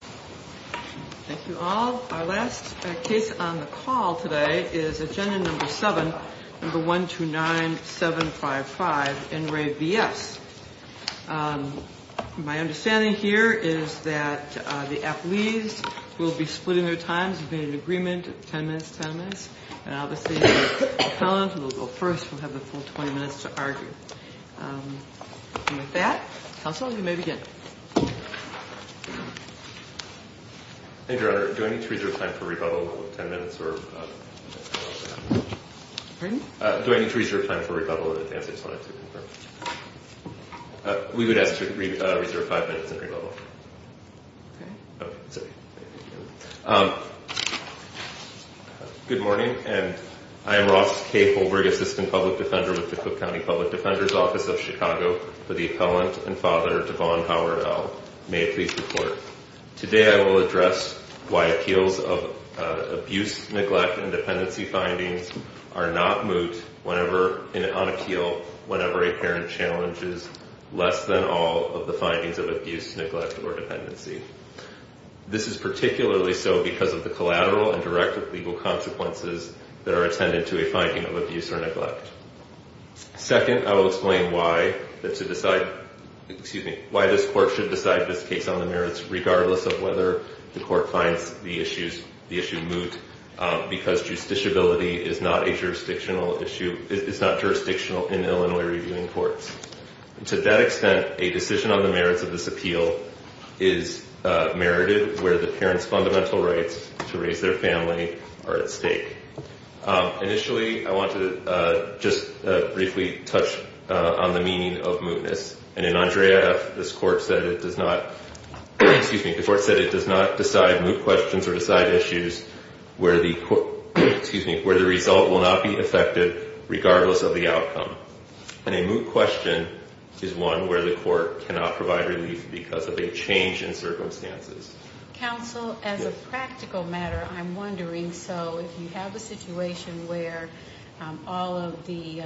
Thank you all. Our last case on the call today is Agenda No. 7, No. 129755, NRAV-BS. My understanding here is that the athletes will be splitting their times and being in agreement, 10 minutes, 10 minutes. And obviously the felons will go first and have the full 20 minutes to argue. And with that, counsel, you may begin. Thank you, Your Honor. Do I need to reserve time for rebuttal of 10 minutes? Pardon? Do I need to reserve time for rebuttal in advance? I just wanted to confirm. We would ask to reserve five minutes and rebuttal. Okay. Okay. Sorry. Good morning, and I am Ross K. Holberg, Assistant Public Defender with the Cook County Public Defender's Office of Chicago, for the appellant and father, Devon Howard-Ell. May it please report. Today I will address why appeals of abuse, neglect, and dependency findings are not moot on appeal whenever a parent challenges less than all of the findings of abuse, neglect, or dependency. This is particularly so because of the collateral and direct legal consequences that are attended to a finding of abuse or neglect. Second, I will explain why this court should decide this case on the merits, regardless of whether the court finds the issue moot, because justiciability is not jurisdictional in Illinois reviewing courts. To that extent, a decision on the merits of this appeal is merited where the parent's fundamental rights to raise their family are at stake. Initially, I want to just briefly touch on the meaning of mootness. And in Andrea F., this court said it does not decide moot questions or decide issues where the result will not be affected, regardless of the outcome. And a moot question is one where the court cannot provide relief because of a change in circumstances. Counsel, as a practical matter, I'm wondering, so if you have a situation where all of the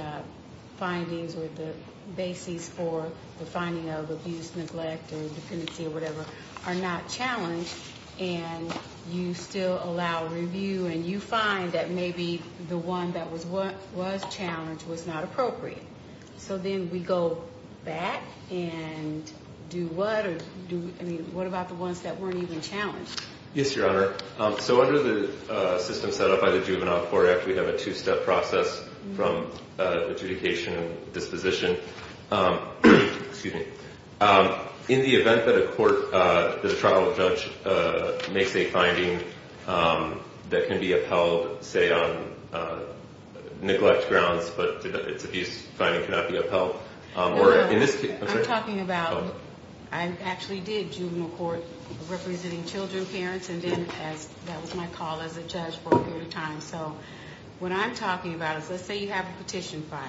findings or the bases for the finding of abuse, neglect, or dependency, or whatever, are not challenged and you still allow review and you find that maybe the one that was challenged was not appropriate, so then we go back and do what? I mean, what about the ones that weren't even challenged? Yes, Your Honor. So under the system set up by the Juvenile Court Act, we have a two-step process from adjudication and disposition. Excuse me. In the event that a court, that a trial judge makes a finding that can be upheld, say, on neglect grounds, but it's abuse, the finding cannot be upheld. No, no. I'm talking about, I actually did juvenile court representing children, parents, and then that was my call as a judge for a period of time. So what I'm talking about is, let's say you have a petition filed,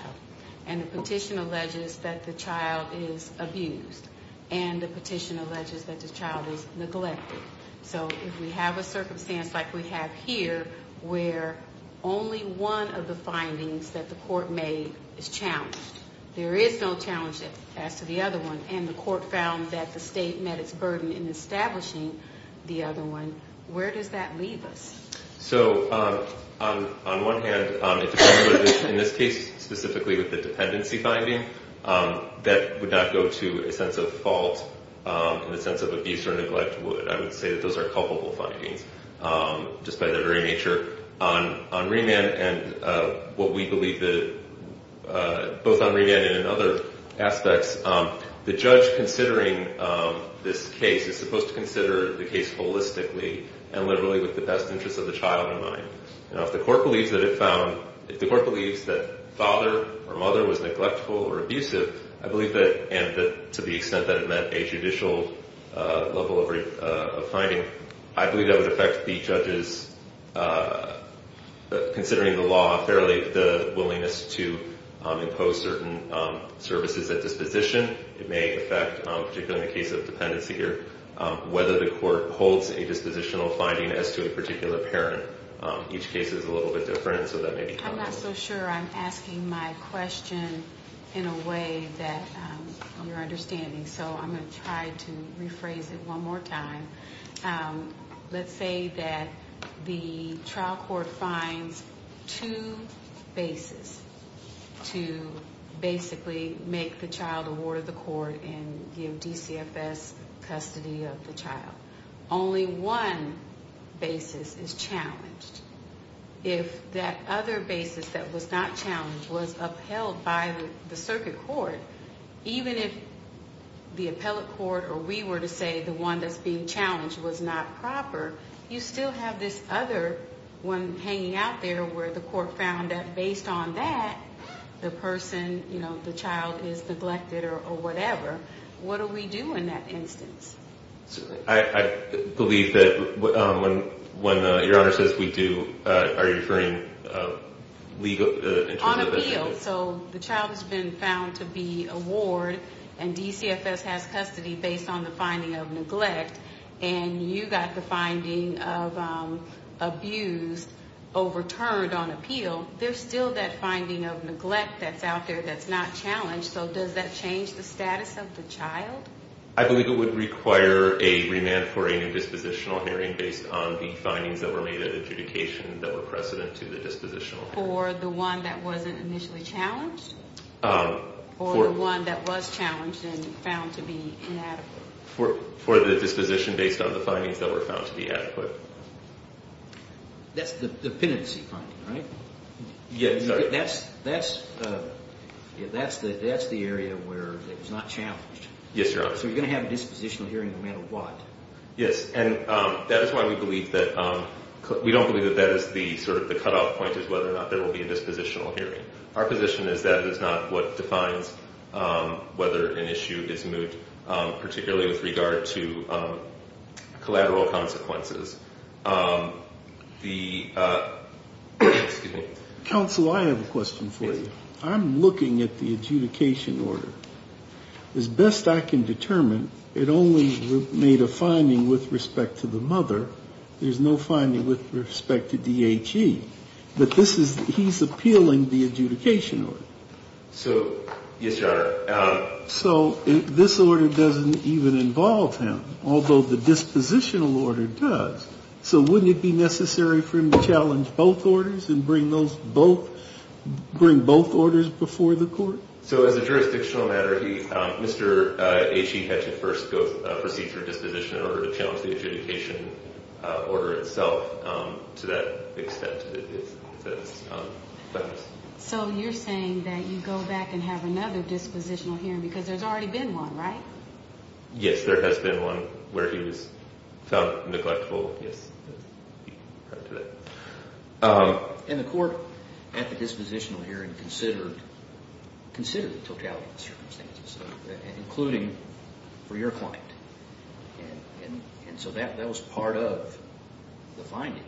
and the petition alleges that the child is abused and the petition alleges that the child is neglected. So if we have a circumstance like we have here where only one of the findings that the court made is challenged, there is no challenge as to the other one, and the court found that the state met its burden in establishing the other one, where does that leave us? So on one hand, in this case specifically with the dependency finding, that would not go to a sense of fault in the sense of abuse or neglect would. I would say that those are culpable findings just by their very nature. On remand and what we believe, both on remand and in other aspects, the judge considering this case is supposed to consider the case holistically and literally with the best interest of the child in mind. If the court believes that it found, if the court believes that father or mother was neglectful or abusive, I believe that, and to the extent that it met a judicial level of finding, I believe that would affect the judges considering the law fairly, the willingness to impose certain services at disposition. It may affect, particularly in the case of dependency here, whether the court holds a dispositional finding as to a particular parent. Each case is a little bit different, so that may be comparable. I'm not so sure I'm asking my question in a way that you're understanding, so I'm going to try to rephrase it one more time. Let's say that the trial court finds two bases to basically make the child a ward of the court and give DCFS custody of the child. Only one basis is challenged. If that other basis that was not challenged was upheld by the circuit court, even if the appellate court or we were to say the one that's being challenged was not proper, you still have this other one hanging out there where the court found that based on that, the person, you know, the child is neglected or whatever. What do we do in that instance? I believe that when Your Honor says we do, are you referring legal? On appeal. So the child has been found to be a ward and DCFS has custody based on the finding of neglect, and you got the finding of abuse overturned on appeal. There's still that finding of neglect that's out there that's not challenged, so does that change the status of the child? I believe it would require a remand for a new dispositional hearing based on the findings that were made that were precedent to the dispositional hearing. For the one that wasn't initially challenged or the one that was challenged and found to be inadequate? For the disposition based on the findings that were found to be adequate. That's the dependency finding, right? Yes. That's the area where it was not challenged. Yes, Your Honor. So you're going to have a dispositional hearing no matter what. Yes, and that is why we believe that we don't believe that that is the sort of the cutoff point is whether or not there will be a dispositional hearing. Our position is that is not what defines whether an issue is moot, particularly with regard to collateral consequences. Counsel, I have a question for you. I'm looking at the adjudication order. As best I can determine, it only made a finding with respect to the mother. There's no finding with respect to DHE. But he's appealing the adjudication order. So, yes, Your Honor. So this order doesn't even involve him, although the dispositional order does. So wouldn't it be necessary for him to challenge both orders and bring both orders before the court? So as a jurisdictional matter, Mr. DHE had to first go through a procedure disposition in order to challenge the adjudication order itself to that extent. So you're saying that you go back and have another dispositional hearing because there's already been one, right? Yes, there has been one where he was found neglectful. And the court, at the dispositional hearing, considered the totality of the circumstances, including for your client. And so that was part of the finding.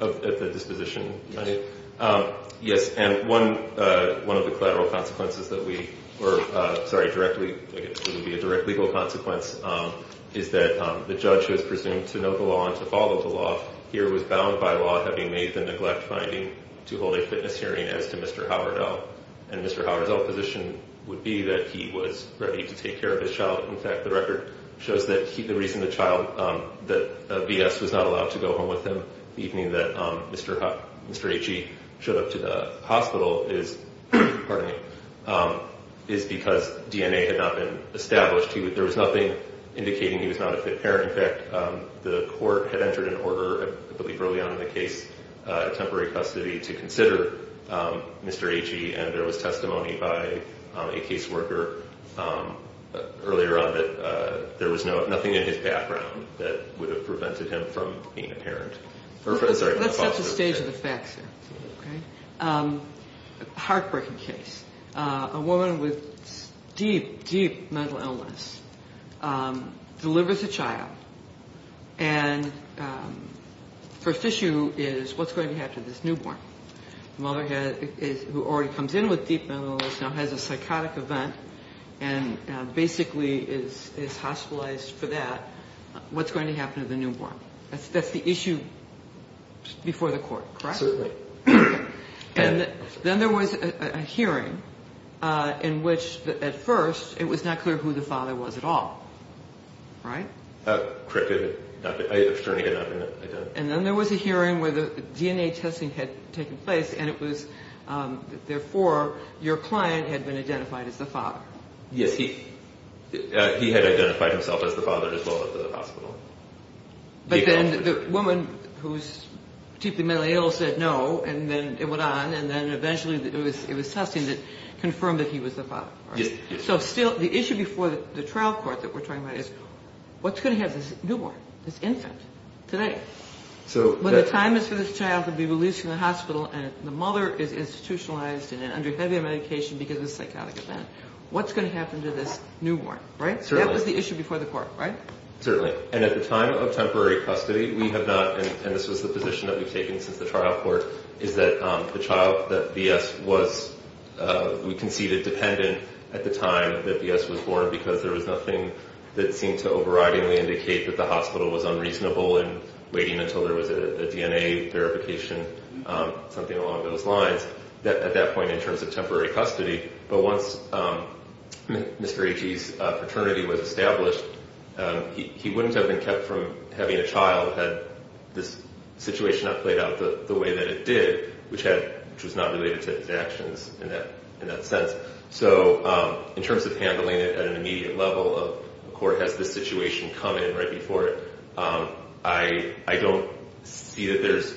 At the disposition hearing? Yes. Yes, and one of the collateral consequences that we were, sorry, I guess it would be a direct legal consequence, is that the judge, who is presumed to know the law and to follow the law, here was bound by law having made the neglect finding to hold a fitness hearing as to Mr. Howardell. And Mr. Howardell's position would be that he was ready to take care of his child. In fact, the record shows that the reason the child, that V.S., was not allowed to go home with him the evening that Mr. Aitchie showed up to the hospital is because DNA had not been established. There was nothing indicating he was not a fit parent. In fact, the court had entered an order, I believe early on in the case, a temporary custody to consider Mr. Aitchie, and there was testimony by a caseworker earlier on that there was nothing in his background that would have prevented him from being a parent. That's not the stage of the facts here. A heartbreaking case. A woman with deep, deep mental illness delivers a child, and the first issue is what's going to happen to this newborn? The mother, who already comes in with deep mental illness, now has a psychotic event and basically is hospitalized for that. What's going to happen to the newborn? That's the issue before the court, correct? Certainly. And then there was a hearing in which, at first, it was not clear who the father was at all, right? Correct. I was trying to get it up. And then there was a hearing where the DNA testing had taken place, and it was, therefore, your client had been identified as the father. Yes, he had identified himself as the father as well at the hospital. But then the woman who was deeply mentally ill said no, and then it went on, and then eventually it was testing that confirmed that he was the father. So still, the issue before the trial court that we're talking about is what's going to happen to this newborn, this infant, today? When the time is for this child to be released from the hospital and the mother is institutionalized and under heavy medication because of a psychotic event, what's going to happen to this newborn, right? That was the issue before the court, right? Certainly. And at the time of temporary custody, we have not, and this was the position that we've taken since the trial court, is that the child that V.S. was, we conceded, dependent at the time that V.S. was born because there was nothing that seemed to overridingly indicate that the hospital was unreasonable in waiting until there was a DNA verification, something along those lines, at that point in terms of temporary custody. But once Mr. H.E.'s paternity was established, he wouldn't have been kept from having a child had this situation not played out the way that it did, which was not related to his actions in that sense. So in terms of handling it at an immediate level, the court has this situation come in right before it. I don't see that there's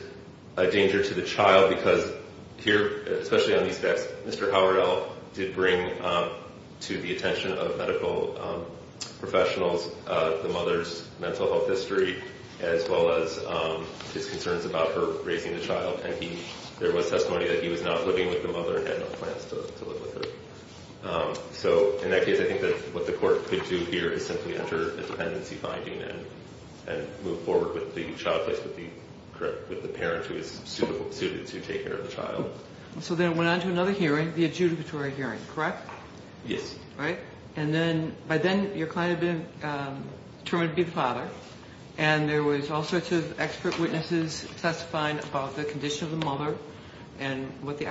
a danger to the child because here, especially on these facts, Mr. Howard L. did bring to the attention of medical professionals the mother's mental health history as well as his concerns about her raising the child. And there was testimony that he was not living with the mother and had no plans to live with her. So in that case, I think that what the court could do here is simply enter a dependency finding and move forward with the child case with the parent who is suited to take care of the child. So then it went on to another hearing, the adjudicatory hearing, correct? Yes. Right? And then by then, your client had been determined to be the father and there was all sorts of expert witnesses testifying about the condition of the mother and what the,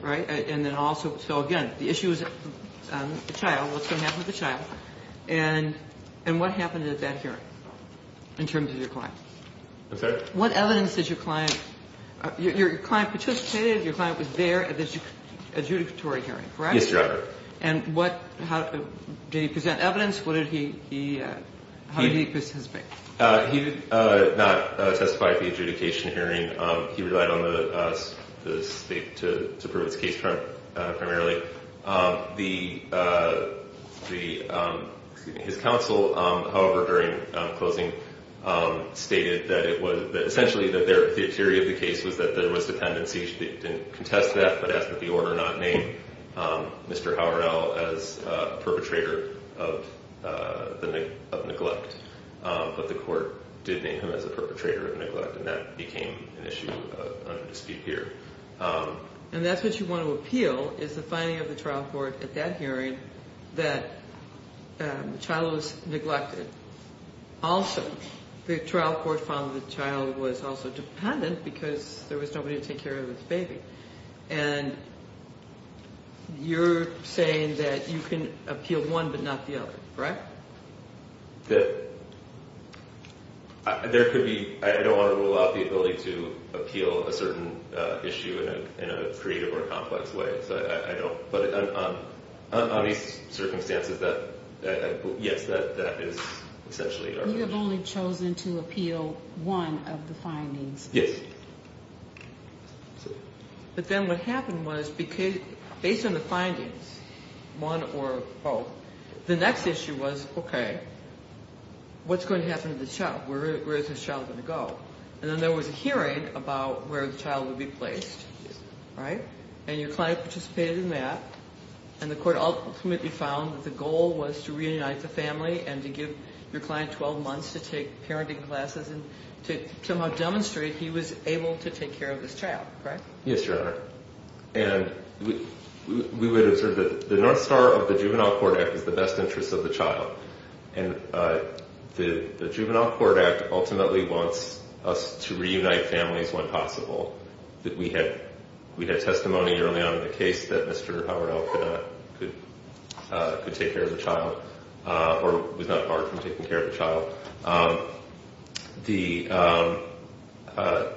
right? And then also, so again, the issue is the child, what's going to happen to the child, and what happened at that hearing in terms of your client? I'm sorry? What evidence did your client, your client participated, your client was there at the adjudicatory hearing, correct? Yes, Your Honor. And what, how, did he present evidence? What did he, how did he participate? He did not testify at the adjudication hearing. He relied on the state to prove his case primarily. The, the, his counsel, however, during closing, stated that it was, that essentially the theory of the case was that there was dependency. They didn't contest that, but asked that the order not name Mr. Howrell as a perpetrator of neglect. But the court did name him as a perpetrator of neglect, and that became an issue under dispute here. And that's what you want to appeal, is the finding of the trial court at that hearing that the child was neglected. Also, the trial court found the child was also dependent because there was nobody to take care of the baby. And you're saying that you can appeal one but not the other, correct? There could be, I don't want to rule out the ability to appeal a certain issue in a creative or complex way. I don't, but on these circumstances that, yes, that is essentially. You have only chosen to appeal one of the findings. Yes. But then what happened was, based on the findings, one or both, the next issue was, okay, what's going to happen to the child? Where is this child going to go? And then there was a hearing about where the child would be placed, right? And your client participated in that, and the court ultimately found that the goal was to reunite the family and to give your client 12 months to take parenting classes and to somehow demonstrate he was able to take care of this child, correct? Yes, Your Honor. And we would observe that the North Star of the Juvenile Court Act is the best interest of the child. And the Juvenile Court Act ultimately wants us to reunite families when possible. We had testimony early on in the case that Mr. Howard Elk could take care of the child, or was not barred from taking care of the child.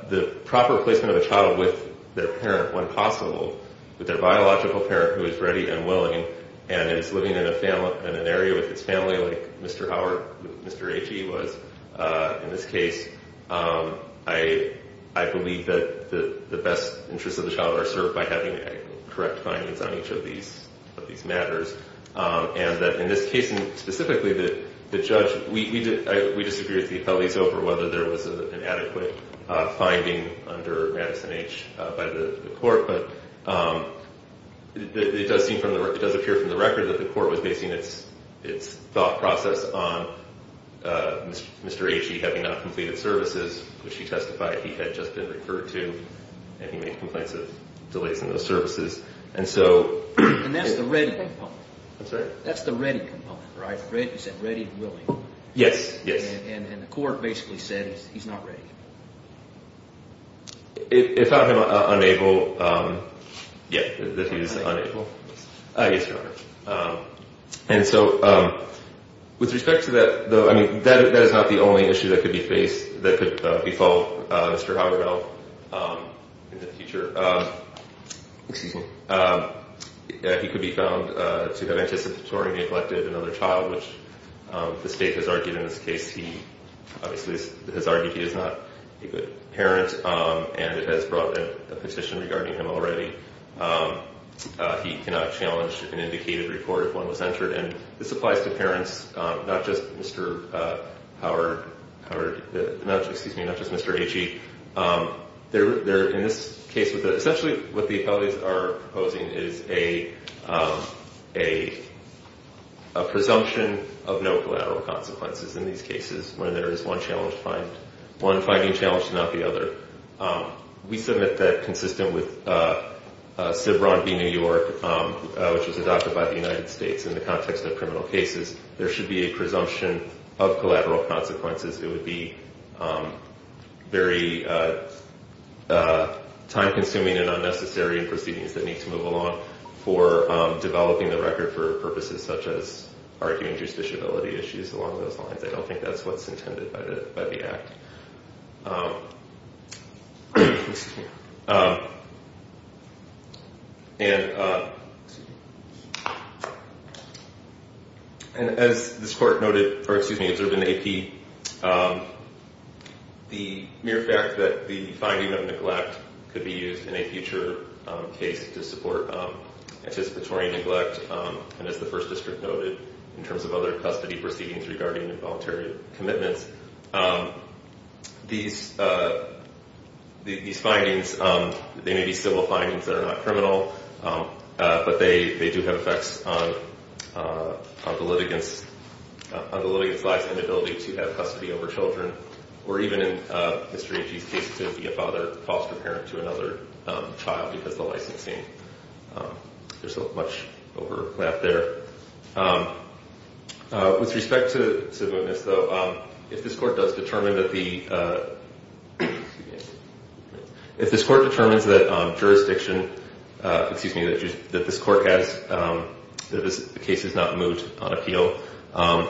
The proper placement of the child with their parent when possible, with their biological parent who is ready and willing and is living in an area with his family, like Mr. Howard, Mr. H.E., was. In this case, I believe that the best interests of the child are served by having correct findings on each of these matters. And in this case, specifically, the judge, we disagreed with the appellees over whether there was an adequate finding under Madison H. by the court. But it does appear from the record that the court was basing its thought process on Mr. H.E. having not completed services, which he testified he had just been referred to. And he made complaints of delays in those services. And that's the ready component. I'm sorry? That's the ready component, right? You said ready and willing. Yes. And the court basically said he's not ready. It found him unable. Yeah, that he's unable. Yes, Your Honor. And so with respect to that, though, I mean, that is not the only issue that could be faced, that could be fault, Mr. H. in the future. Excuse me. He could be found to have anticipatory neglected another child, which the state has argued in this case. He obviously has argued he is not a good parent, and it has brought in a petition regarding him already. He cannot challenge an indicated report if one was entered. And this applies to parents, not just Mr. Howard. Excuse me, not just Mr. H.E. In this case, essentially what the appellates are proposing is a presumption of no collateral consequences in these cases when there is one challenge to find, one finding challenge to not the other. We submit that consistent with CBRON v. New York, which was adopted by the United States in the context of criminal cases. There should be a presumption of collateral consequences. It would be very time-consuming and unnecessary in proceedings that need to move along for developing the record for purposes such as arguing justiciability issues along those lines. I don't think that's what's intended by the act. And as this court noted, or excuse me, observed in the AP, the mere fact that the finding of neglect could be used in a future case to support anticipatory neglect, and as the First District noted in terms of other custody proceedings regarding involuntary commitments, these findings, they may be civil findings that are not criminal, but they do have effects on the litigant's life and ability to have custody over children, or even in Mr. H.E.'s case, to be a foster parent to another child because of the licensing. There's so much overlap there. With respect to the witness, though, if this court does determine that the, excuse me, if this court determines that jurisdiction, excuse me, that this court has, that this case has not moved on appeal,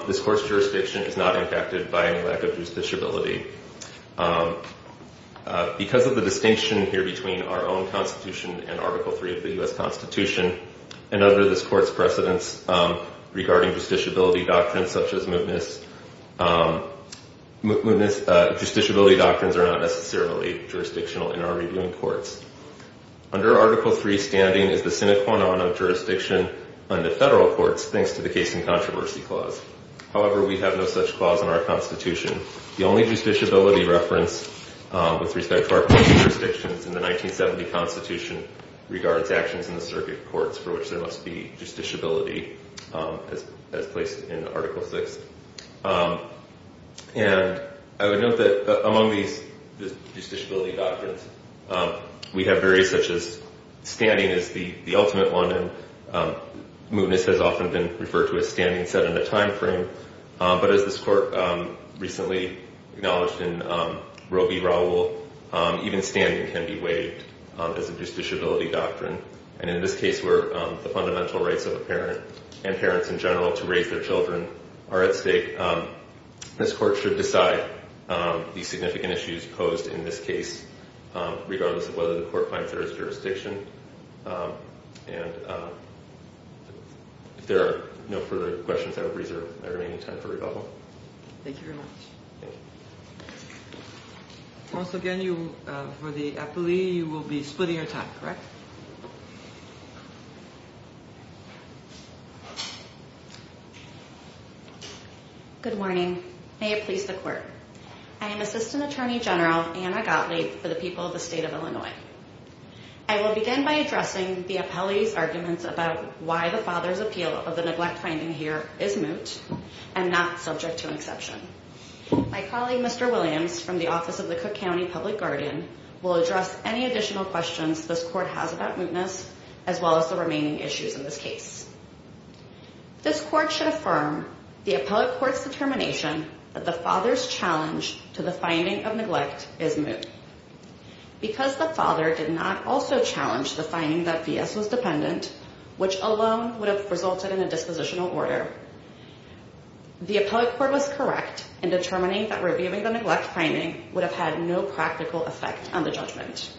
this court's jurisdiction is not impacted by any lack of justiciability. Because of the distinction here between our own Constitution and Article III of the U.S. Constitution, and under this court's precedence regarding justiciability doctrines such as mootness, justiciability doctrines are not necessarily jurisdictional in our reviewing courts. Under Article III, standing is the sine qua non of jurisdiction under federal courts, thanks to the case and controversy clause. However, we have no such clause in our Constitution. The only justiciability reference with respect to our court's jurisdictions in the 1970 Constitution regards actions in the circuit courts for which there must be justiciability as placed in Article VI. And I would note that among these justiciability doctrines, we have various such as standing is the ultimate one, and mootness has often been referred to as standing set in a time frame. But as this court recently acknowledged in Roe v. Raoul, even standing can be waived as a justiciability doctrine. And in this case where the fundamental rights of a parent and parents in general to raise their children are at stake, this court should decide the significant issues posed in this case regardless of whether the court finds there is jurisdiction. And if there are no further questions, I will reserve my remaining time for rebuttal. Thank you very much. Thank you. Once again, for the appellee, you will be splitting your time, correct? Good morning. May it please the court. I am Assistant Attorney General Anna Gottlieb for the people of the state of Illinois. I will begin by addressing the appellee's arguments about why the father's appeal of the neglect finding here is moot and not subject to exception. My colleague, Mr. Williams, from the office of the Cook County Public Guardian, will address any additional questions this court has about mootness as well as the remaining issues in this case. This court should affirm the appellate court's determination that the father's challenge to the finding of neglect is moot. Because the father did not also challenge the finding that V.S. was dependent, which alone would have resulted in a dispositional order, the appellate court was correct in determining that reviewing the neglect finding would have had no practical effect on the judgment.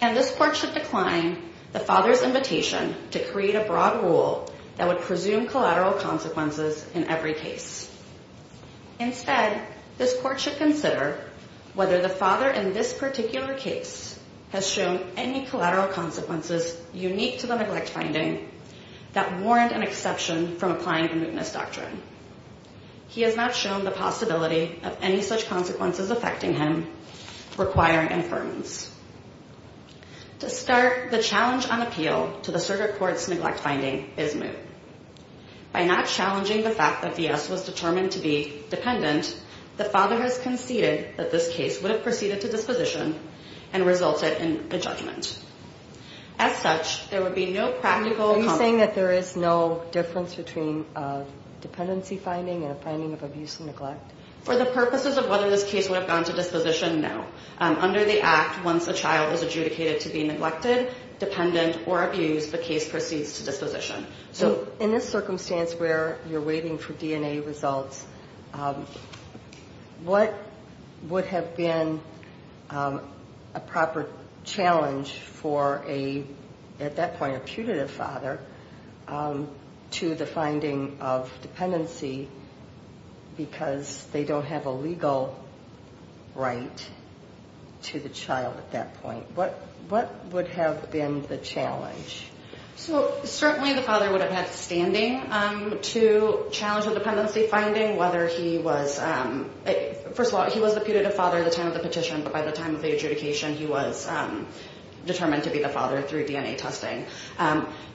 And this court should decline the father's invitation to create a broad rule that would presume collateral consequences in every case. Instead, this court should consider whether the father in this particular case has shown any collateral consequences unique to the neglect finding that warrant an exception from applying the mootness doctrine. He has not shown the possibility of any such consequences affecting him requiring inference. To start, the challenge on appeal to the circuit court's neglect finding is moot. By not challenging the fact that V.S. was determined to be dependent, the father has conceded that this case would have proceeded to disposition and resulted in a judgment. As such, there would be no practical... Are you saying that there is no difference between a dependency finding and a finding of abuse and neglect? For the purposes of whether this case would have gone to disposition, no. Under the Act, once a child is adjudicated to be neglected, dependent, or abused, the case proceeds to disposition. So in this circumstance where you're waiting for DNA results, what would have been a proper challenge for a, at that point, a putative father to the finding of dependency because they don't have a legal right to the child at that point? What would have been the challenge? So certainly the father would have had standing to challenge the dependency finding whether he was... First of all, he was the putative father at the time of the petition, but by the time of the adjudication, he was determined to be the father through DNA testing.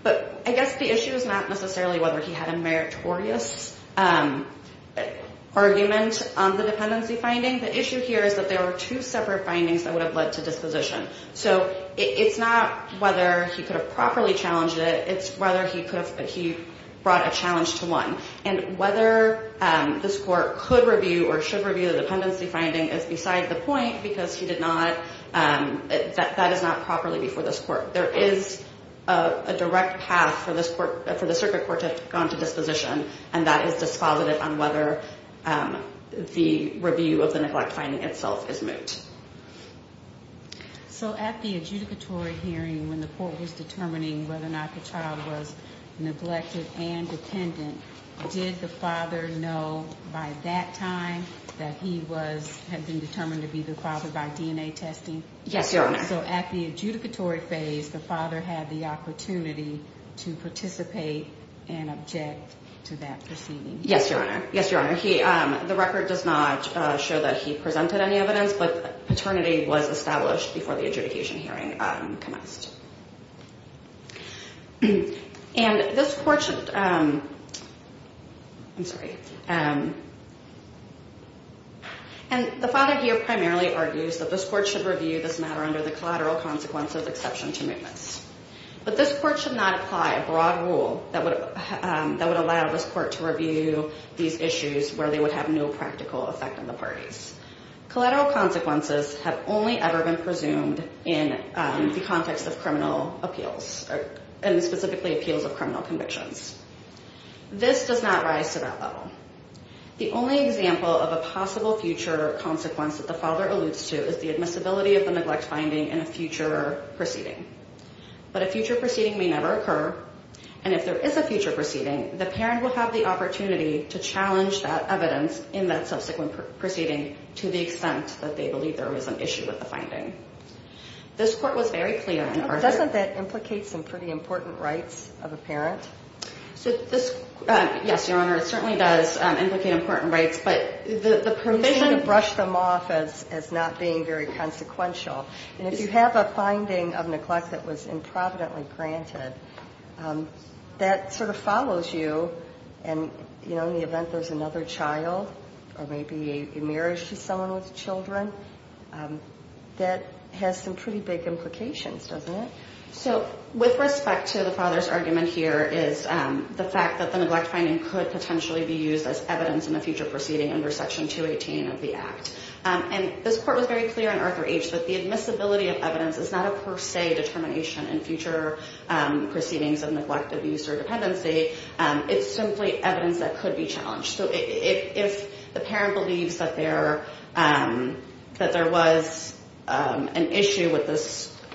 But I guess the issue is not necessarily whether he had a meritorious argument on the dependency finding. The issue here is that there were two separate findings that would have led to disposition. So it's not whether he could have properly challenged it. It's whether he brought a challenge to one. And whether this court could review or should review the dependency finding is beside the point because that is not properly before this court. There is a direct path for the circuit court to have gone to disposition, and that is dispositive on whether the review of the neglect finding itself is moot. So at the adjudicatory hearing when the court was determining whether or not the child was neglected and dependent, did the father know by that time that he had been determined to be the father by DNA testing? Yes, Your Honor. So at the adjudicatory phase, the father had the opportunity to participate and object to that proceeding? Yes, Your Honor. Yes, Your Honor. The record does not show that he presented any evidence, but paternity was established before the adjudication hearing commenced. And this court should ‑‑ I'm sorry. And the father here primarily argues that this court should review this matter under the collateral consequences exception to mootness. But this court should not apply a broad rule that would allow this court to review these issues where they would have no practical effect on the parties. Collateral consequences have only ever been presumed in the context of criminal appeals, and specifically appeals of criminal convictions. This does not rise to that level. The only example of a possible future consequence that the father alludes to is the admissibility of the neglect finding in a future proceeding. But a future proceeding may never occur, and if there is a future proceeding, the parent will have the opportunity to challenge that evidence in that subsequent proceeding to the extent that they believe there was an issue with the finding. This court was very clear in ‑‑ Doesn't that implicate some pretty important rights of a parent? So this, yes, Your Honor, it certainly does implicate important rights, but the provision ‑‑ You seem to brush them off as not being very consequential. And if you have a finding of neglect that was improvidently granted, that sort of follows you, and, you know, in the event there's another child or maybe a marriage to someone with children, that has some pretty big implications, doesn't it? So with respect to the father's argument here is the fact that the neglect finding could potentially be used as evidence in a future proceeding under Section 218 of the Act. And this court was very clear in Arthur H. that the admissibility of evidence is not a per se determination in future proceedings of neglect, abuse, or dependency. It's simply evidence that could be challenged. And if they were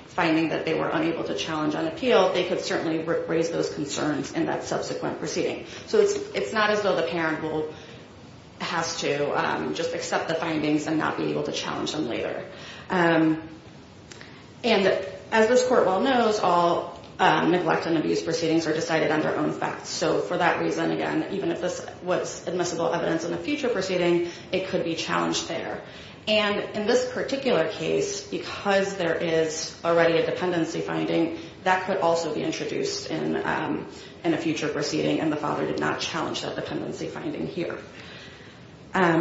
finding that they were unable to challenge on appeal, they could certainly raise those concerns in that subsequent proceeding. So it's not as though the parent has to just accept the findings and not be able to challenge them later. And as this court well knows, all neglect and abuse proceedings are decided on their own facts. So for that reason, again, even if this was admissible evidence in a future proceeding, it could be challenged there. And in this particular case, because there is already a dependency finding, that could also be introduced in a future proceeding, and the father did not challenge that dependency finding here. And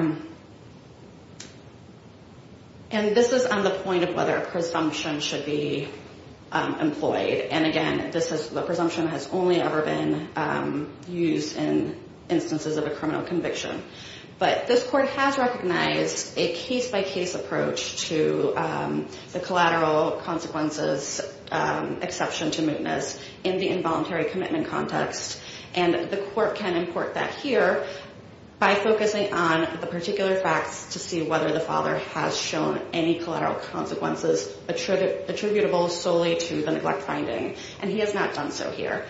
this is on the point of whether a presumption should be employed. And again, the presumption has only ever been used in instances of a criminal conviction. But this court has recognized a case-by-case approach to the collateral consequences exception to mootness in the involuntary commitment context. And the court can import that here by focusing on the particular facts to see whether the father has shown any collateral consequences attributable solely to the neglect finding. And he has not done so here.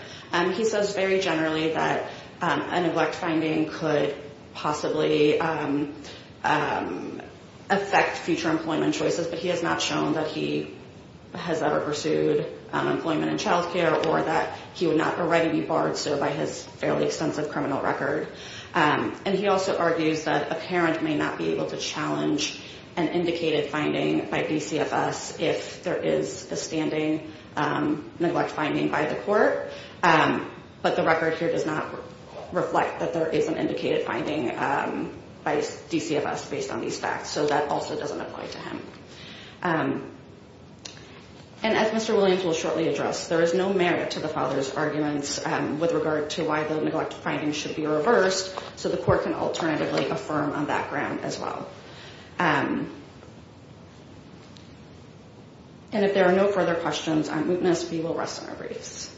He says very generally that a neglect finding could possibly affect future employment choices, but he has not shown that he has ever pursued employment in child care or that he would not already be barred, so by his fairly extensive criminal record. And he also argues that a parent may not be able to challenge an indicated finding by DCFS if there is a standing neglect finding by the court, but the record here does not reflect that there is an indicated finding by DCFS based on these facts, so that also doesn't apply to him. And as Mr. Williams will shortly address, there is no merit to the father's arguments with regard to why the neglect finding should be reversed, so the court can alternatively affirm on that ground as well. And if there are no further questions, I'm going to ask that we will rest our briefs.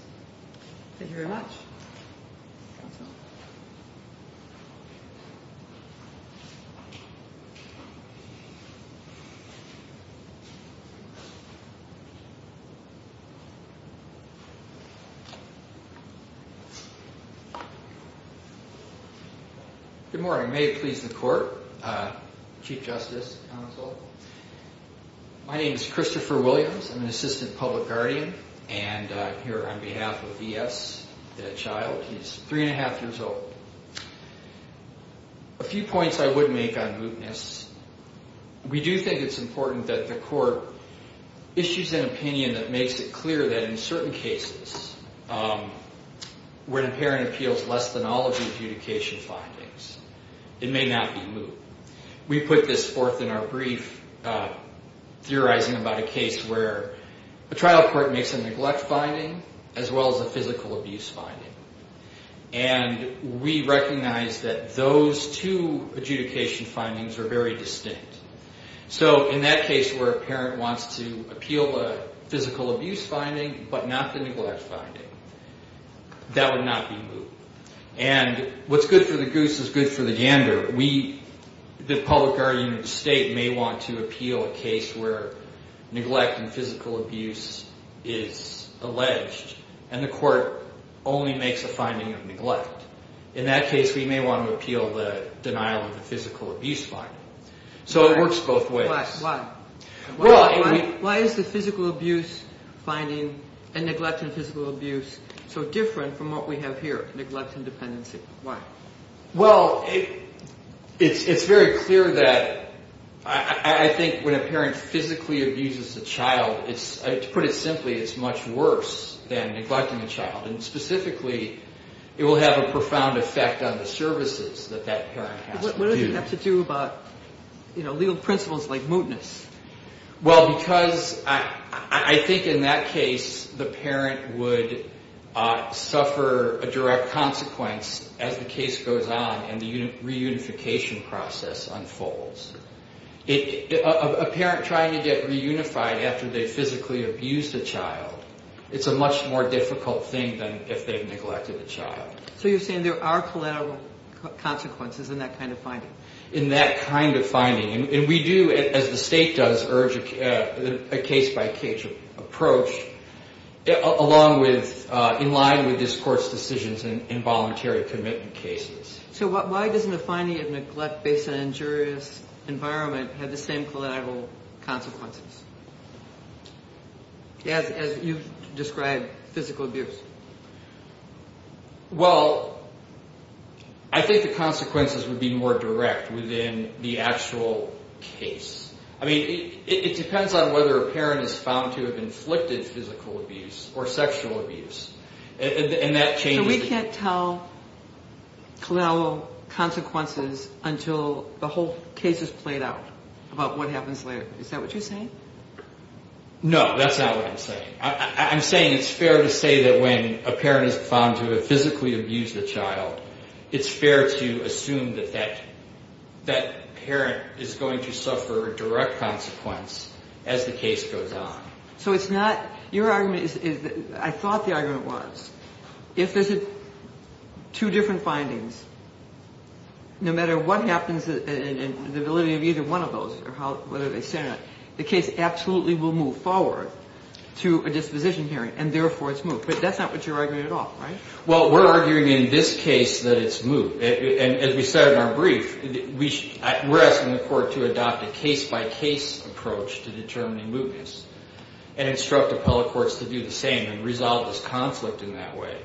Thank you very much. Good morning. May it please the court, Chief Justice, counsel. My name is Christopher Williams. I'm an assistant public guardian, and I'm here on behalf of E.S., the child. He's three and a half years old. A few points I would make on mootness. We do think it's important that the court issues an opinion that makes it clear that in certain cases where the parent appeals less than all of the adjudication findings, it may not be moot. We put this forth in our brief, theorizing about a case where a trial court makes a neglect finding as well as a physical abuse finding. And we recognize that those two adjudication findings are very distinct. So in that case where a parent wants to appeal a physical abuse finding but not the neglect finding, that would not be moot. And what's good for the goose is good for the yander. The public guardian of the state may want to appeal a case where neglect and physical abuse is alleged, and the court only makes a finding of neglect. In that case, we may want to appeal the denial of the physical abuse finding. So it works both ways. Why is the physical abuse finding and neglect and physical abuse so different from what we have here, neglect and dependency? Why? Well, it's very clear that I think when a parent physically abuses a child, to put it simply, it's much worse than neglecting a child. And specifically, it will have a profound effect on the services that that parent has to do. What does it have to do about legal principles like mootness? Well, because I think in that case, the parent would suffer a direct consequence as the case goes on and the reunification process unfolds. A parent trying to get reunified after they physically abused a child, it's a much more difficult thing than if they've neglected a child. So you're saying there are collateral consequences in that kind of finding? In that kind of finding. And we do, as the state does, urge a case-by-case approach along with in line with this Court's decisions in voluntary commitment cases. So why doesn't a finding of neglect based on injurious environment have the same collateral consequences, as you've described, physical abuse? Well, I think the consequences would be more direct within the actual case. I mean, it depends on whether a parent is found to have inflicted physical abuse or sexual abuse. And that changes... So we can't tell collateral consequences until the whole case is played out about what happens later. Is that what you're saying? No, that's not what I'm saying. I'm saying it's fair to say that when a parent is found to have physically abused a child, it's fair to assume that that parent is going to suffer a direct consequence as the case goes on. So it's not... Your argument is... I thought the argument was if there's two different findings, no matter what happens and the validity of either one of those, the case absolutely will move forward to a disposition hearing, and therefore it's moot. But that's not what you're arguing at all, right? Well, we're arguing in this case that it's moot. And as we said in our brief, we're asking the Court to adopt a case-by-case approach to determining mootness and instruct appellate courts to do the same and resolve this conflict in that way.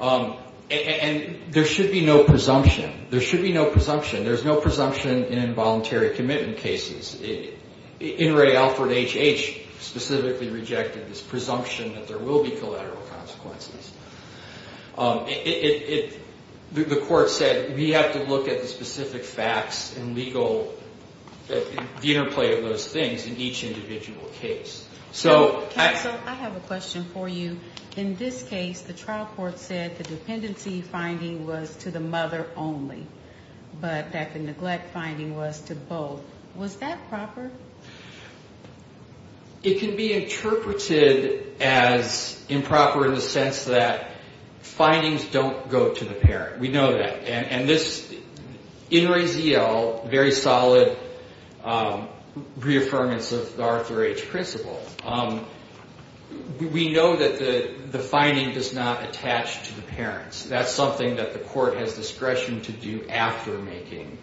And there should be no presumption. There should be no presumption. There's no presumption in involuntary commitment cases. In re Alfred H.H. specifically rejected this presumption that there will be collateral consequences. The Court said we have to look at the specific facts and legal... the interplay of those things in each individual case. So... Counsel, I have a question for you. In this case, the trial court said the dependency finding was to the mother only. But that the neglect finding was to both. Was that proper? It can be interpreted as improper in the sense that findings don't go to the parent. We know that. And this in re Z.L., very solid reaffirmance of the Arthur H. principle. We know that the finding does not attach to the parents. That's something that the court has discretion to do after making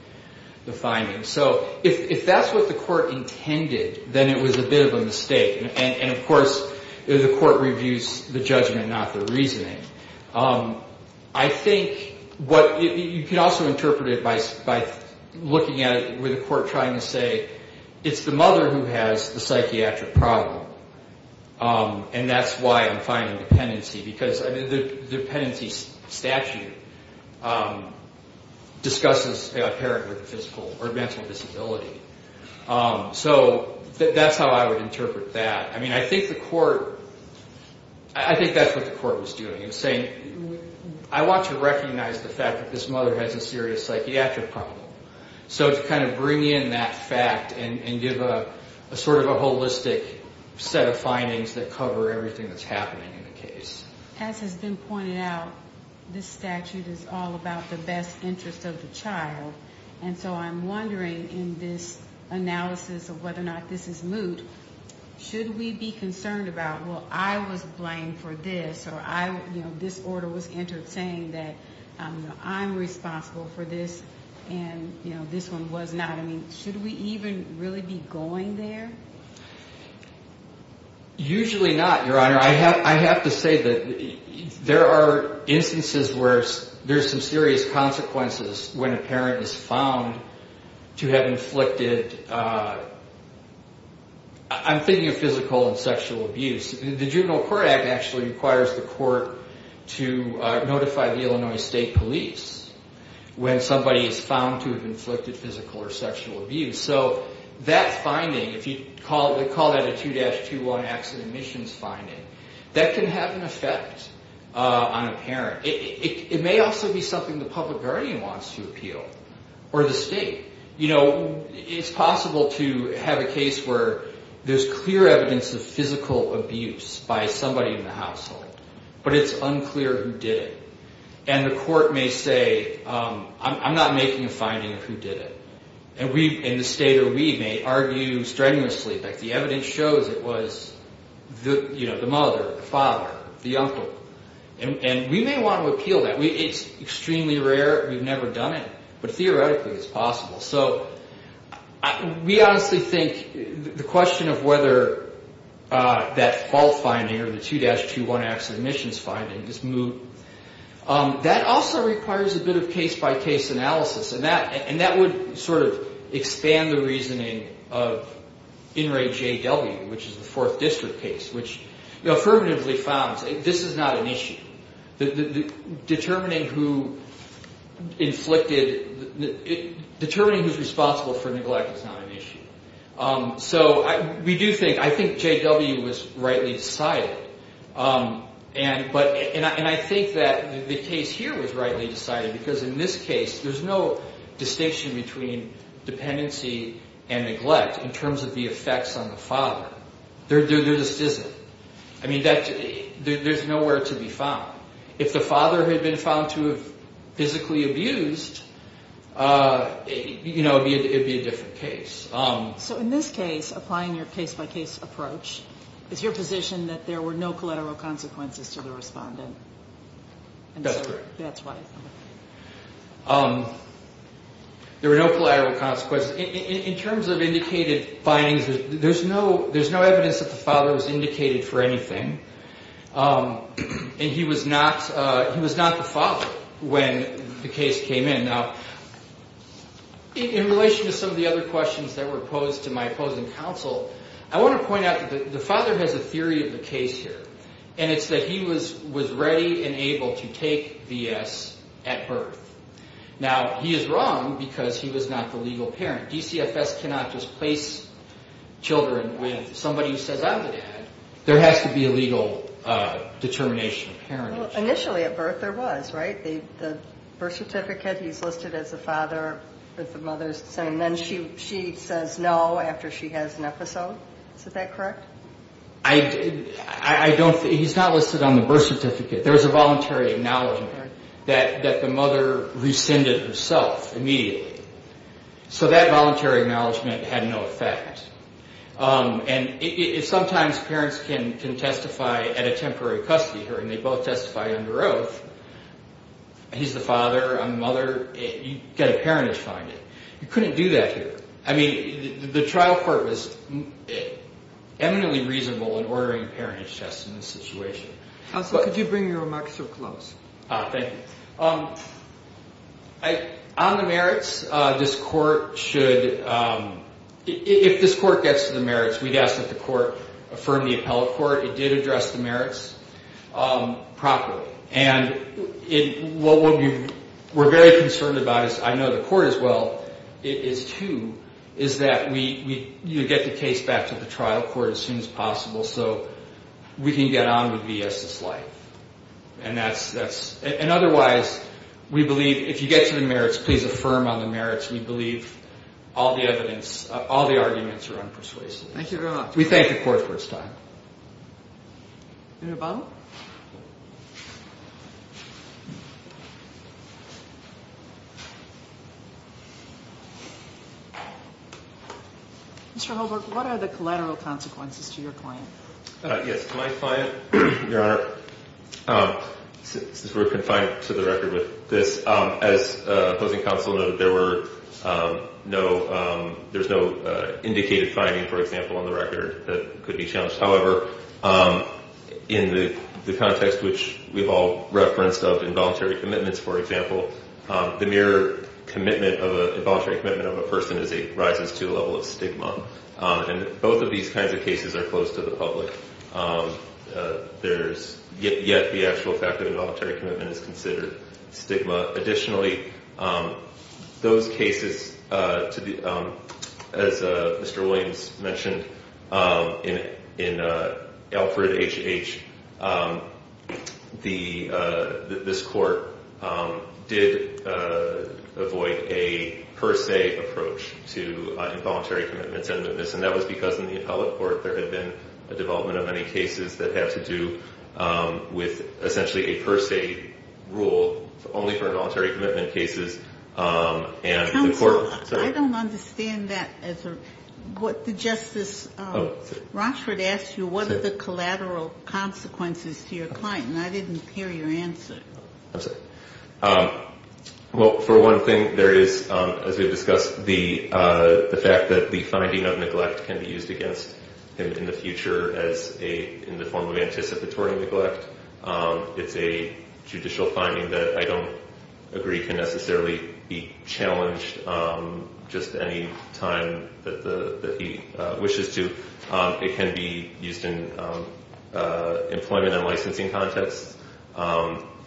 the finding. So if that's what the court intended, then it was a bit of a mistake. And, of course, the court reviews the judgment, not the reasoning. I think what... You can also interpret it by looking at it with the court trying to say, it's the mother who has the psychiatric problem. And that's why I'm finding dependency. Because the dependency statute discusses a parent with a physical or mental disability. So that's how I would interpret that. I mean, I think the court... I think that's what the court was doing. It was saying, I want to recognize the fact that this mother has a serious psychiatric problem. So to kind of bring in that fact and give a sort of a holistic set of findings that cover everything that's happening in the case. As has been pointed out, this statute is all about the best interest of the child. And so I'm wondering in this analysis of whether or not this is moot, should we be concerned about, well, I was blamed for this, or this order was entered saying that I'm responsible for this and this one was not. I mean, should we even really be going there? Usually not, Your Honor. I have to say that there are instances where there's some serious consequences when a parent is found to have inflicted... I'm thinking of physical and sexual abuse. The Juvenile Court Act actually requires the court to notify the Illinois State Police when somebody is found to have inflicted physical or sexual abuse. So that finding, if you call that a 2-21 accident admissions finding, that can have an effect on a parent. It may also be something the public guardian wants to appeal or the state. It's possible to have a case where there's clear evidence of physical abuse by somebody in the household, but it's unclear who did it. And the court may say, I'm not making a finding of who did it. And the state or we may argue strenuously that the evidence shows it was the mother, the father, the uncle. And we may want to appeal that. It's extremely rare. We've never done it, but theoretically it's possible. So we honestly think the question of whether that fault finding or the 2-21 accident admissions finding is moot, that also requires a bit of case-by-case analysis, and that would sort of expand the reasoning of In Re J W, which is the Fourth District case, which affirmatively founds this is not an issue. Determining who inflicted, determining who's responsible for neglect is not an issue. So we do think, I think J.W. was rightly decided. And I think that the case here was rightly decided, because in this case there's no distinction between dependency and neglect in terms of the effects on the father. There just isn't. I mean, there's nowhere to be found. If the father had been found to have physically abused, you know, it would be a different case. So in this case, applying your case-by-case approach, is your position that there were no collateral consequences to the respondent? That's correct. That's why. There were no collateral consequences. In terms of indicated findings, there's no evidence that the father was indicated for anything, and he was not the father when the case came in. Now, in relation to some of the other questions that were posed to my opposing counsel, I want to point out that the father has a theory of the case here, and it's that he was ready and able to take V.S. at birth. Now, he is wrong because he was not the legal parent. DCFS cannot just place children with somebody who says, I'm the dad. There has to be a legal determination of parentage. Well, initially at birth there was, right? The birth certificate, he's listed as the father if the mother's the same. Then she says no after she has an episode. Is that correct? I don't think he's not listed on the birth certificate. There was a voluntary acknowledgment that the mother rescinded herself immediately. So that voluntary acknowledgment had no effect. And sometimes parents can testify at a temporary custody hearing. They both testify under oath. He's the father, I'm the mother. You get a parentage finding. You couldn't do that here. I mean, the trial court was eminently reasonable in ordering parentage tests in this situation. Counsel, could you bring your remarks to a close? Thank you. On the merits, this court should – if this court gets to the merits, we'd ask that the court affirm the appellate court. It did address the merits properly. And what we're very concerned about is – I know the court as well is too – is that we get the case back to the trial court as soon as possible. So we can get on with V.S.'s life. And that's – and otherwise, we believe – if you get to the merits, please affirm on the merits. We believe all the evidence – all the arguments are unpersuasive. Thank you very much. We thank the court for its time. Mr. Hubbard? Mr. Hubbard, what are the collateral consequences to your client? Yes. My client, Your Honor, since we're confined to the record with this, as opposing counsel noted, there were no – there's no indicated finding, for example, on the record that could be challenged. However, in the context which we've all referenced of involuntary commitments, for example, the mere commitment of a – involuntary commitment of a person is a – rises to a level of stigma. And both of these kinds of cases are closed to the public. There's – yet the actual fact of involuntary commitment is considered stigma. Additionally, those cases to the – as Mr. Williams mentioned, in Alfred H.H., the – this court did avoid a per se approach to involuntary commitments and witness, and that was because in the appellate court there had been a development of many cases that had to do with essentially a per se rule only for involuntary commitment cases. And the court – Counsel, I don't understand that as a – what the Justice Rochford asked you, what are the collateral consequences to your client? And I didn't hear your answer. I'm sorry. Well, for one thing, there is, as we've discussed, the fact that the finding of neglect can be used against him in the future as a – in the form of anticipatory neglect. It's a judicial finding that I don't agree can necessarily be challenged just any time that he wishes to. It can be used in employment and licensing contexts.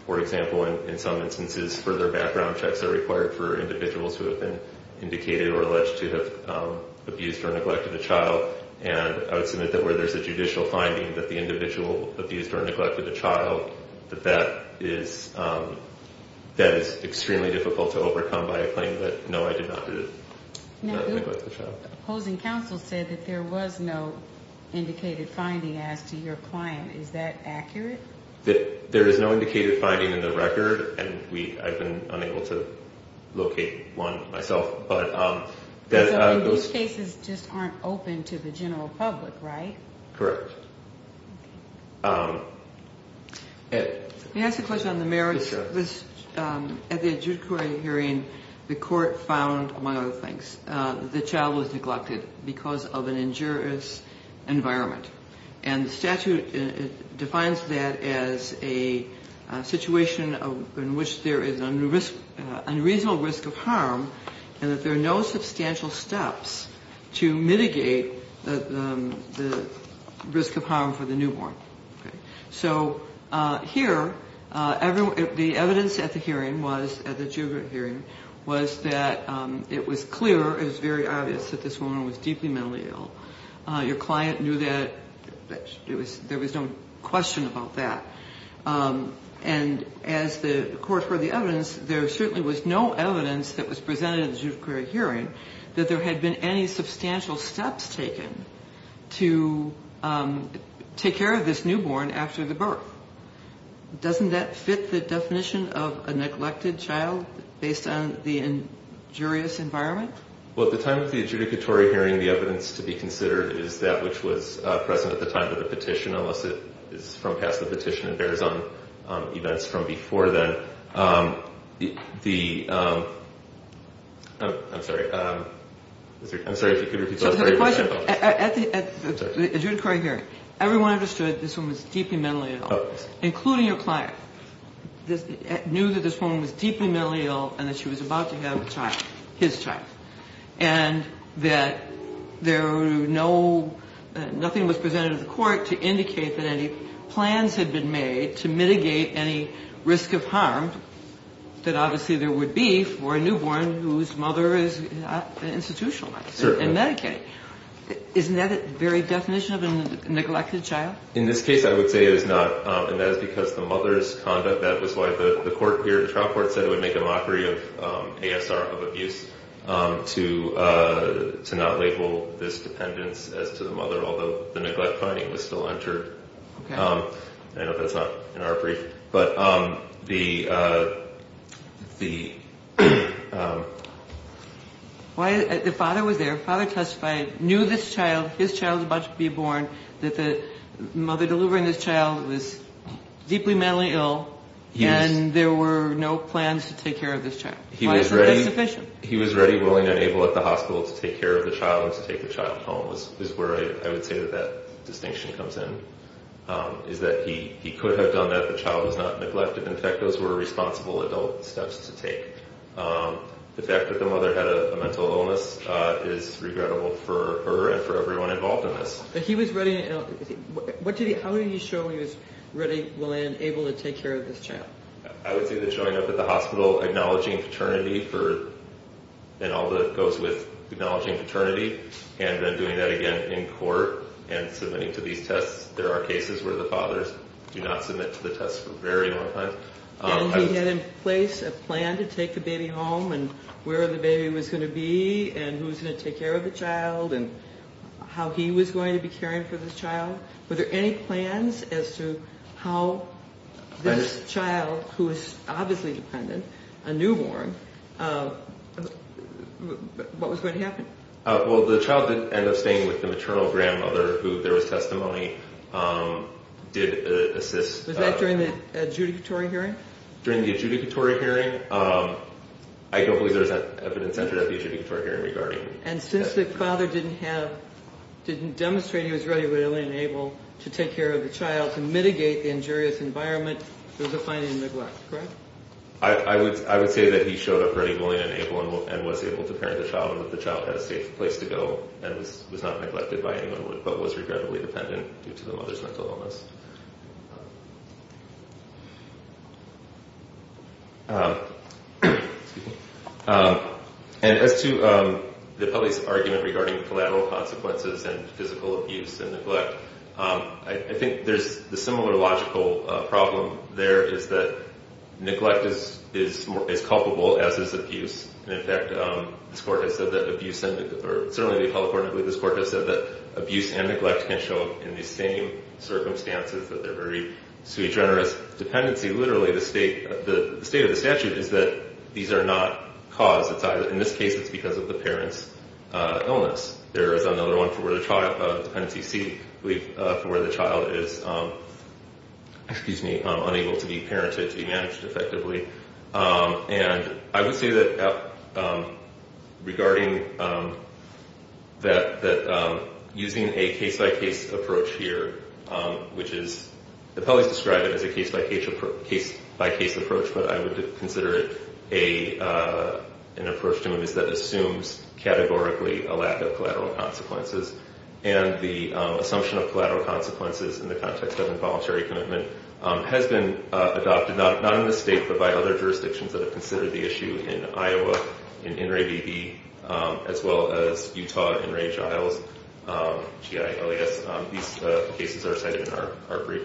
For example, in some instances, further background checks are required for individuals who have been indicated or alleged to have abused or neglected a child, and I would submit that where there's a judicial finding that the individual abused or neglected a child, that that is extremely difficult to overcome by a claim that, no, I did not neglect the child. Now, opposing counsel said that there was no indicated finding as to your client. Is that accurate? There is no indicated finding in the record, and I've been unable to locate one myself. But those cases just aren't open to the general public, right? Correct. May I ask a question on the merits? Yes, sir. At the adjudicatory hearing, the court found, among other things, that the child was neglected because of an injurious environment. And the statute defines that as a situation in which there is an unreasonable risk of harm and that there are no substantial steps to mitigate the risk of harm for the newborn. So here, the evidence at the hearing was, at the adjudicatory hearing, was that it was clear, it was very obvious, that this woman was deeply mentally ill. Your client knew that. There was no question about that. And as the court heard the evidence, there certainly was no evidence that was presented in the judiciary hearing that there had been any substantial steps taken to take care of this newborn after the birth. Doesn't that fit the definition of a neglected child based on the injurious environment? Well, at the time of the adjudicatory hearing, the evidence to be considered is that which was present at the time of the petition, unless it is from past the petition and bears on events from before then. I'm sorry. I'm sorry if you could repeat the question. At the adjudicatory hearing, everyone understood this woman was deeply mentally ill, including your client. Knew that this woman was deeply mentally ill and that she was about to have a child, his child, and that nothing was presented to the court to indicate that any plans had been made to mitigate any risk of harm that obviously there would be for a newborn whose mother is not institutionalized in Medicaid. Isn't that the very definition of a neglected child? In this case, I would say it is not, and that is because the mother's conduct, that was why the trial court said it would make a mockery of ASR of abuse to not label this dependence as to the mother, although the neglect finding was still entered. I know that's not in our brief, but the father was there. The father testified, knew this child, his child was about to be born, that the mother delivering this child was deeply mentally ill and there were no plans to take care of this child. He was ready, willing, and able at the hospital to take care of the child and to take the child home is where I would say that that distinction comes in, is that he could have done that if the child was not neglected. In fact, those were responsible adult steps to take. The fact that the mother had a mental illness is regrettable for her and for everyone involved in this. But he was ready, how did he show he was ready, willing, and able to take care of this child? I would say the showing up at the hospital, acknowledging paternity, and all that goes with acknowledging paternity, and then doing that again in court and submitting to these tests. There are cases where the fathers do not submit to the tests for a very long time. And he had in place a plan to take the baby home and where the baby was going to be and who was going to take care of the child and how he was going to be caring for this child. Were there any plans as to how this child, who is obviously dependent, a newborn, what was going to happen? Well, the child did end up staying with the maternal grandmother who, there was testimony, did assist. Was that during the adjudicatory hearing? During the adjudicatory hearing? I don't believe there was evidence entered at the adjudicatory hearing regarding that. And since the father didn't demonstrate he was ready, willing, and able to take care of the child to mitigate the injurious environment, there was a planning neglect, correct? I would say that he showed up ready, willing, and able, and was able to parent the child and that the child had a safe place to go and was not neglected by anyone but was regrettably dependent due to the mother's mental illness. And as to the public's argument regarding collateral consequences and physical abuse and neglect, I think there's a similar logical problem there is that neglect is culpable as is abuse. And in fact, this court has said that abuse and neglect, or certainly the appellate court, I believe this court has said that abuse and neglect can show in the same circumstances that they're very sui generis dependency. Literally, the state of the statute is that these are not caused. In this case, it's because of the parent's illness. There is another one for where the child, dependency C, I believe, for where the child is unable to be parented, to be managed effectively. And I would say that regarding that using a case-by-case approach here, which is, the appellees describe it as a case-by-case approach, but I would consider it an approach that assumes categorically a lack of collateral consequences. And the assumption of collateral consequences in the context of involuntary commitment has been adopted, not in this state, but by other jurisdictions that have considered the issue, in Iowa, in INRAE-BB, as well as Utah, INRAE-Giles, GI, LAS. These cases are cited in our brief.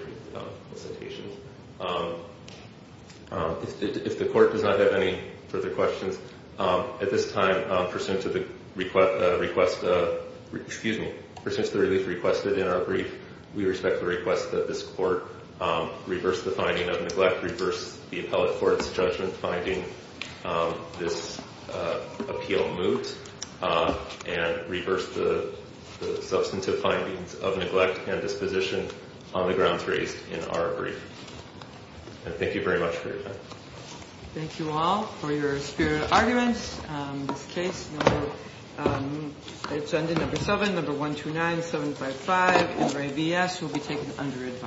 If the court does not have any further questions, at this time, pursuant to the request, excuse me, pursuant to the relief requested in our brief, we respectfully request that this court reverse the finding of neglect, reverse the appellate court's judgment finding this appeal moot, and reverse the substantive findings of neglect and disposition on the grounds raised in our brief. And thank you very much for your time. Thank you all for your spirited arguments. This case, number, it's under number 7, number 129755, INRAE-VS, will be taken under advisory.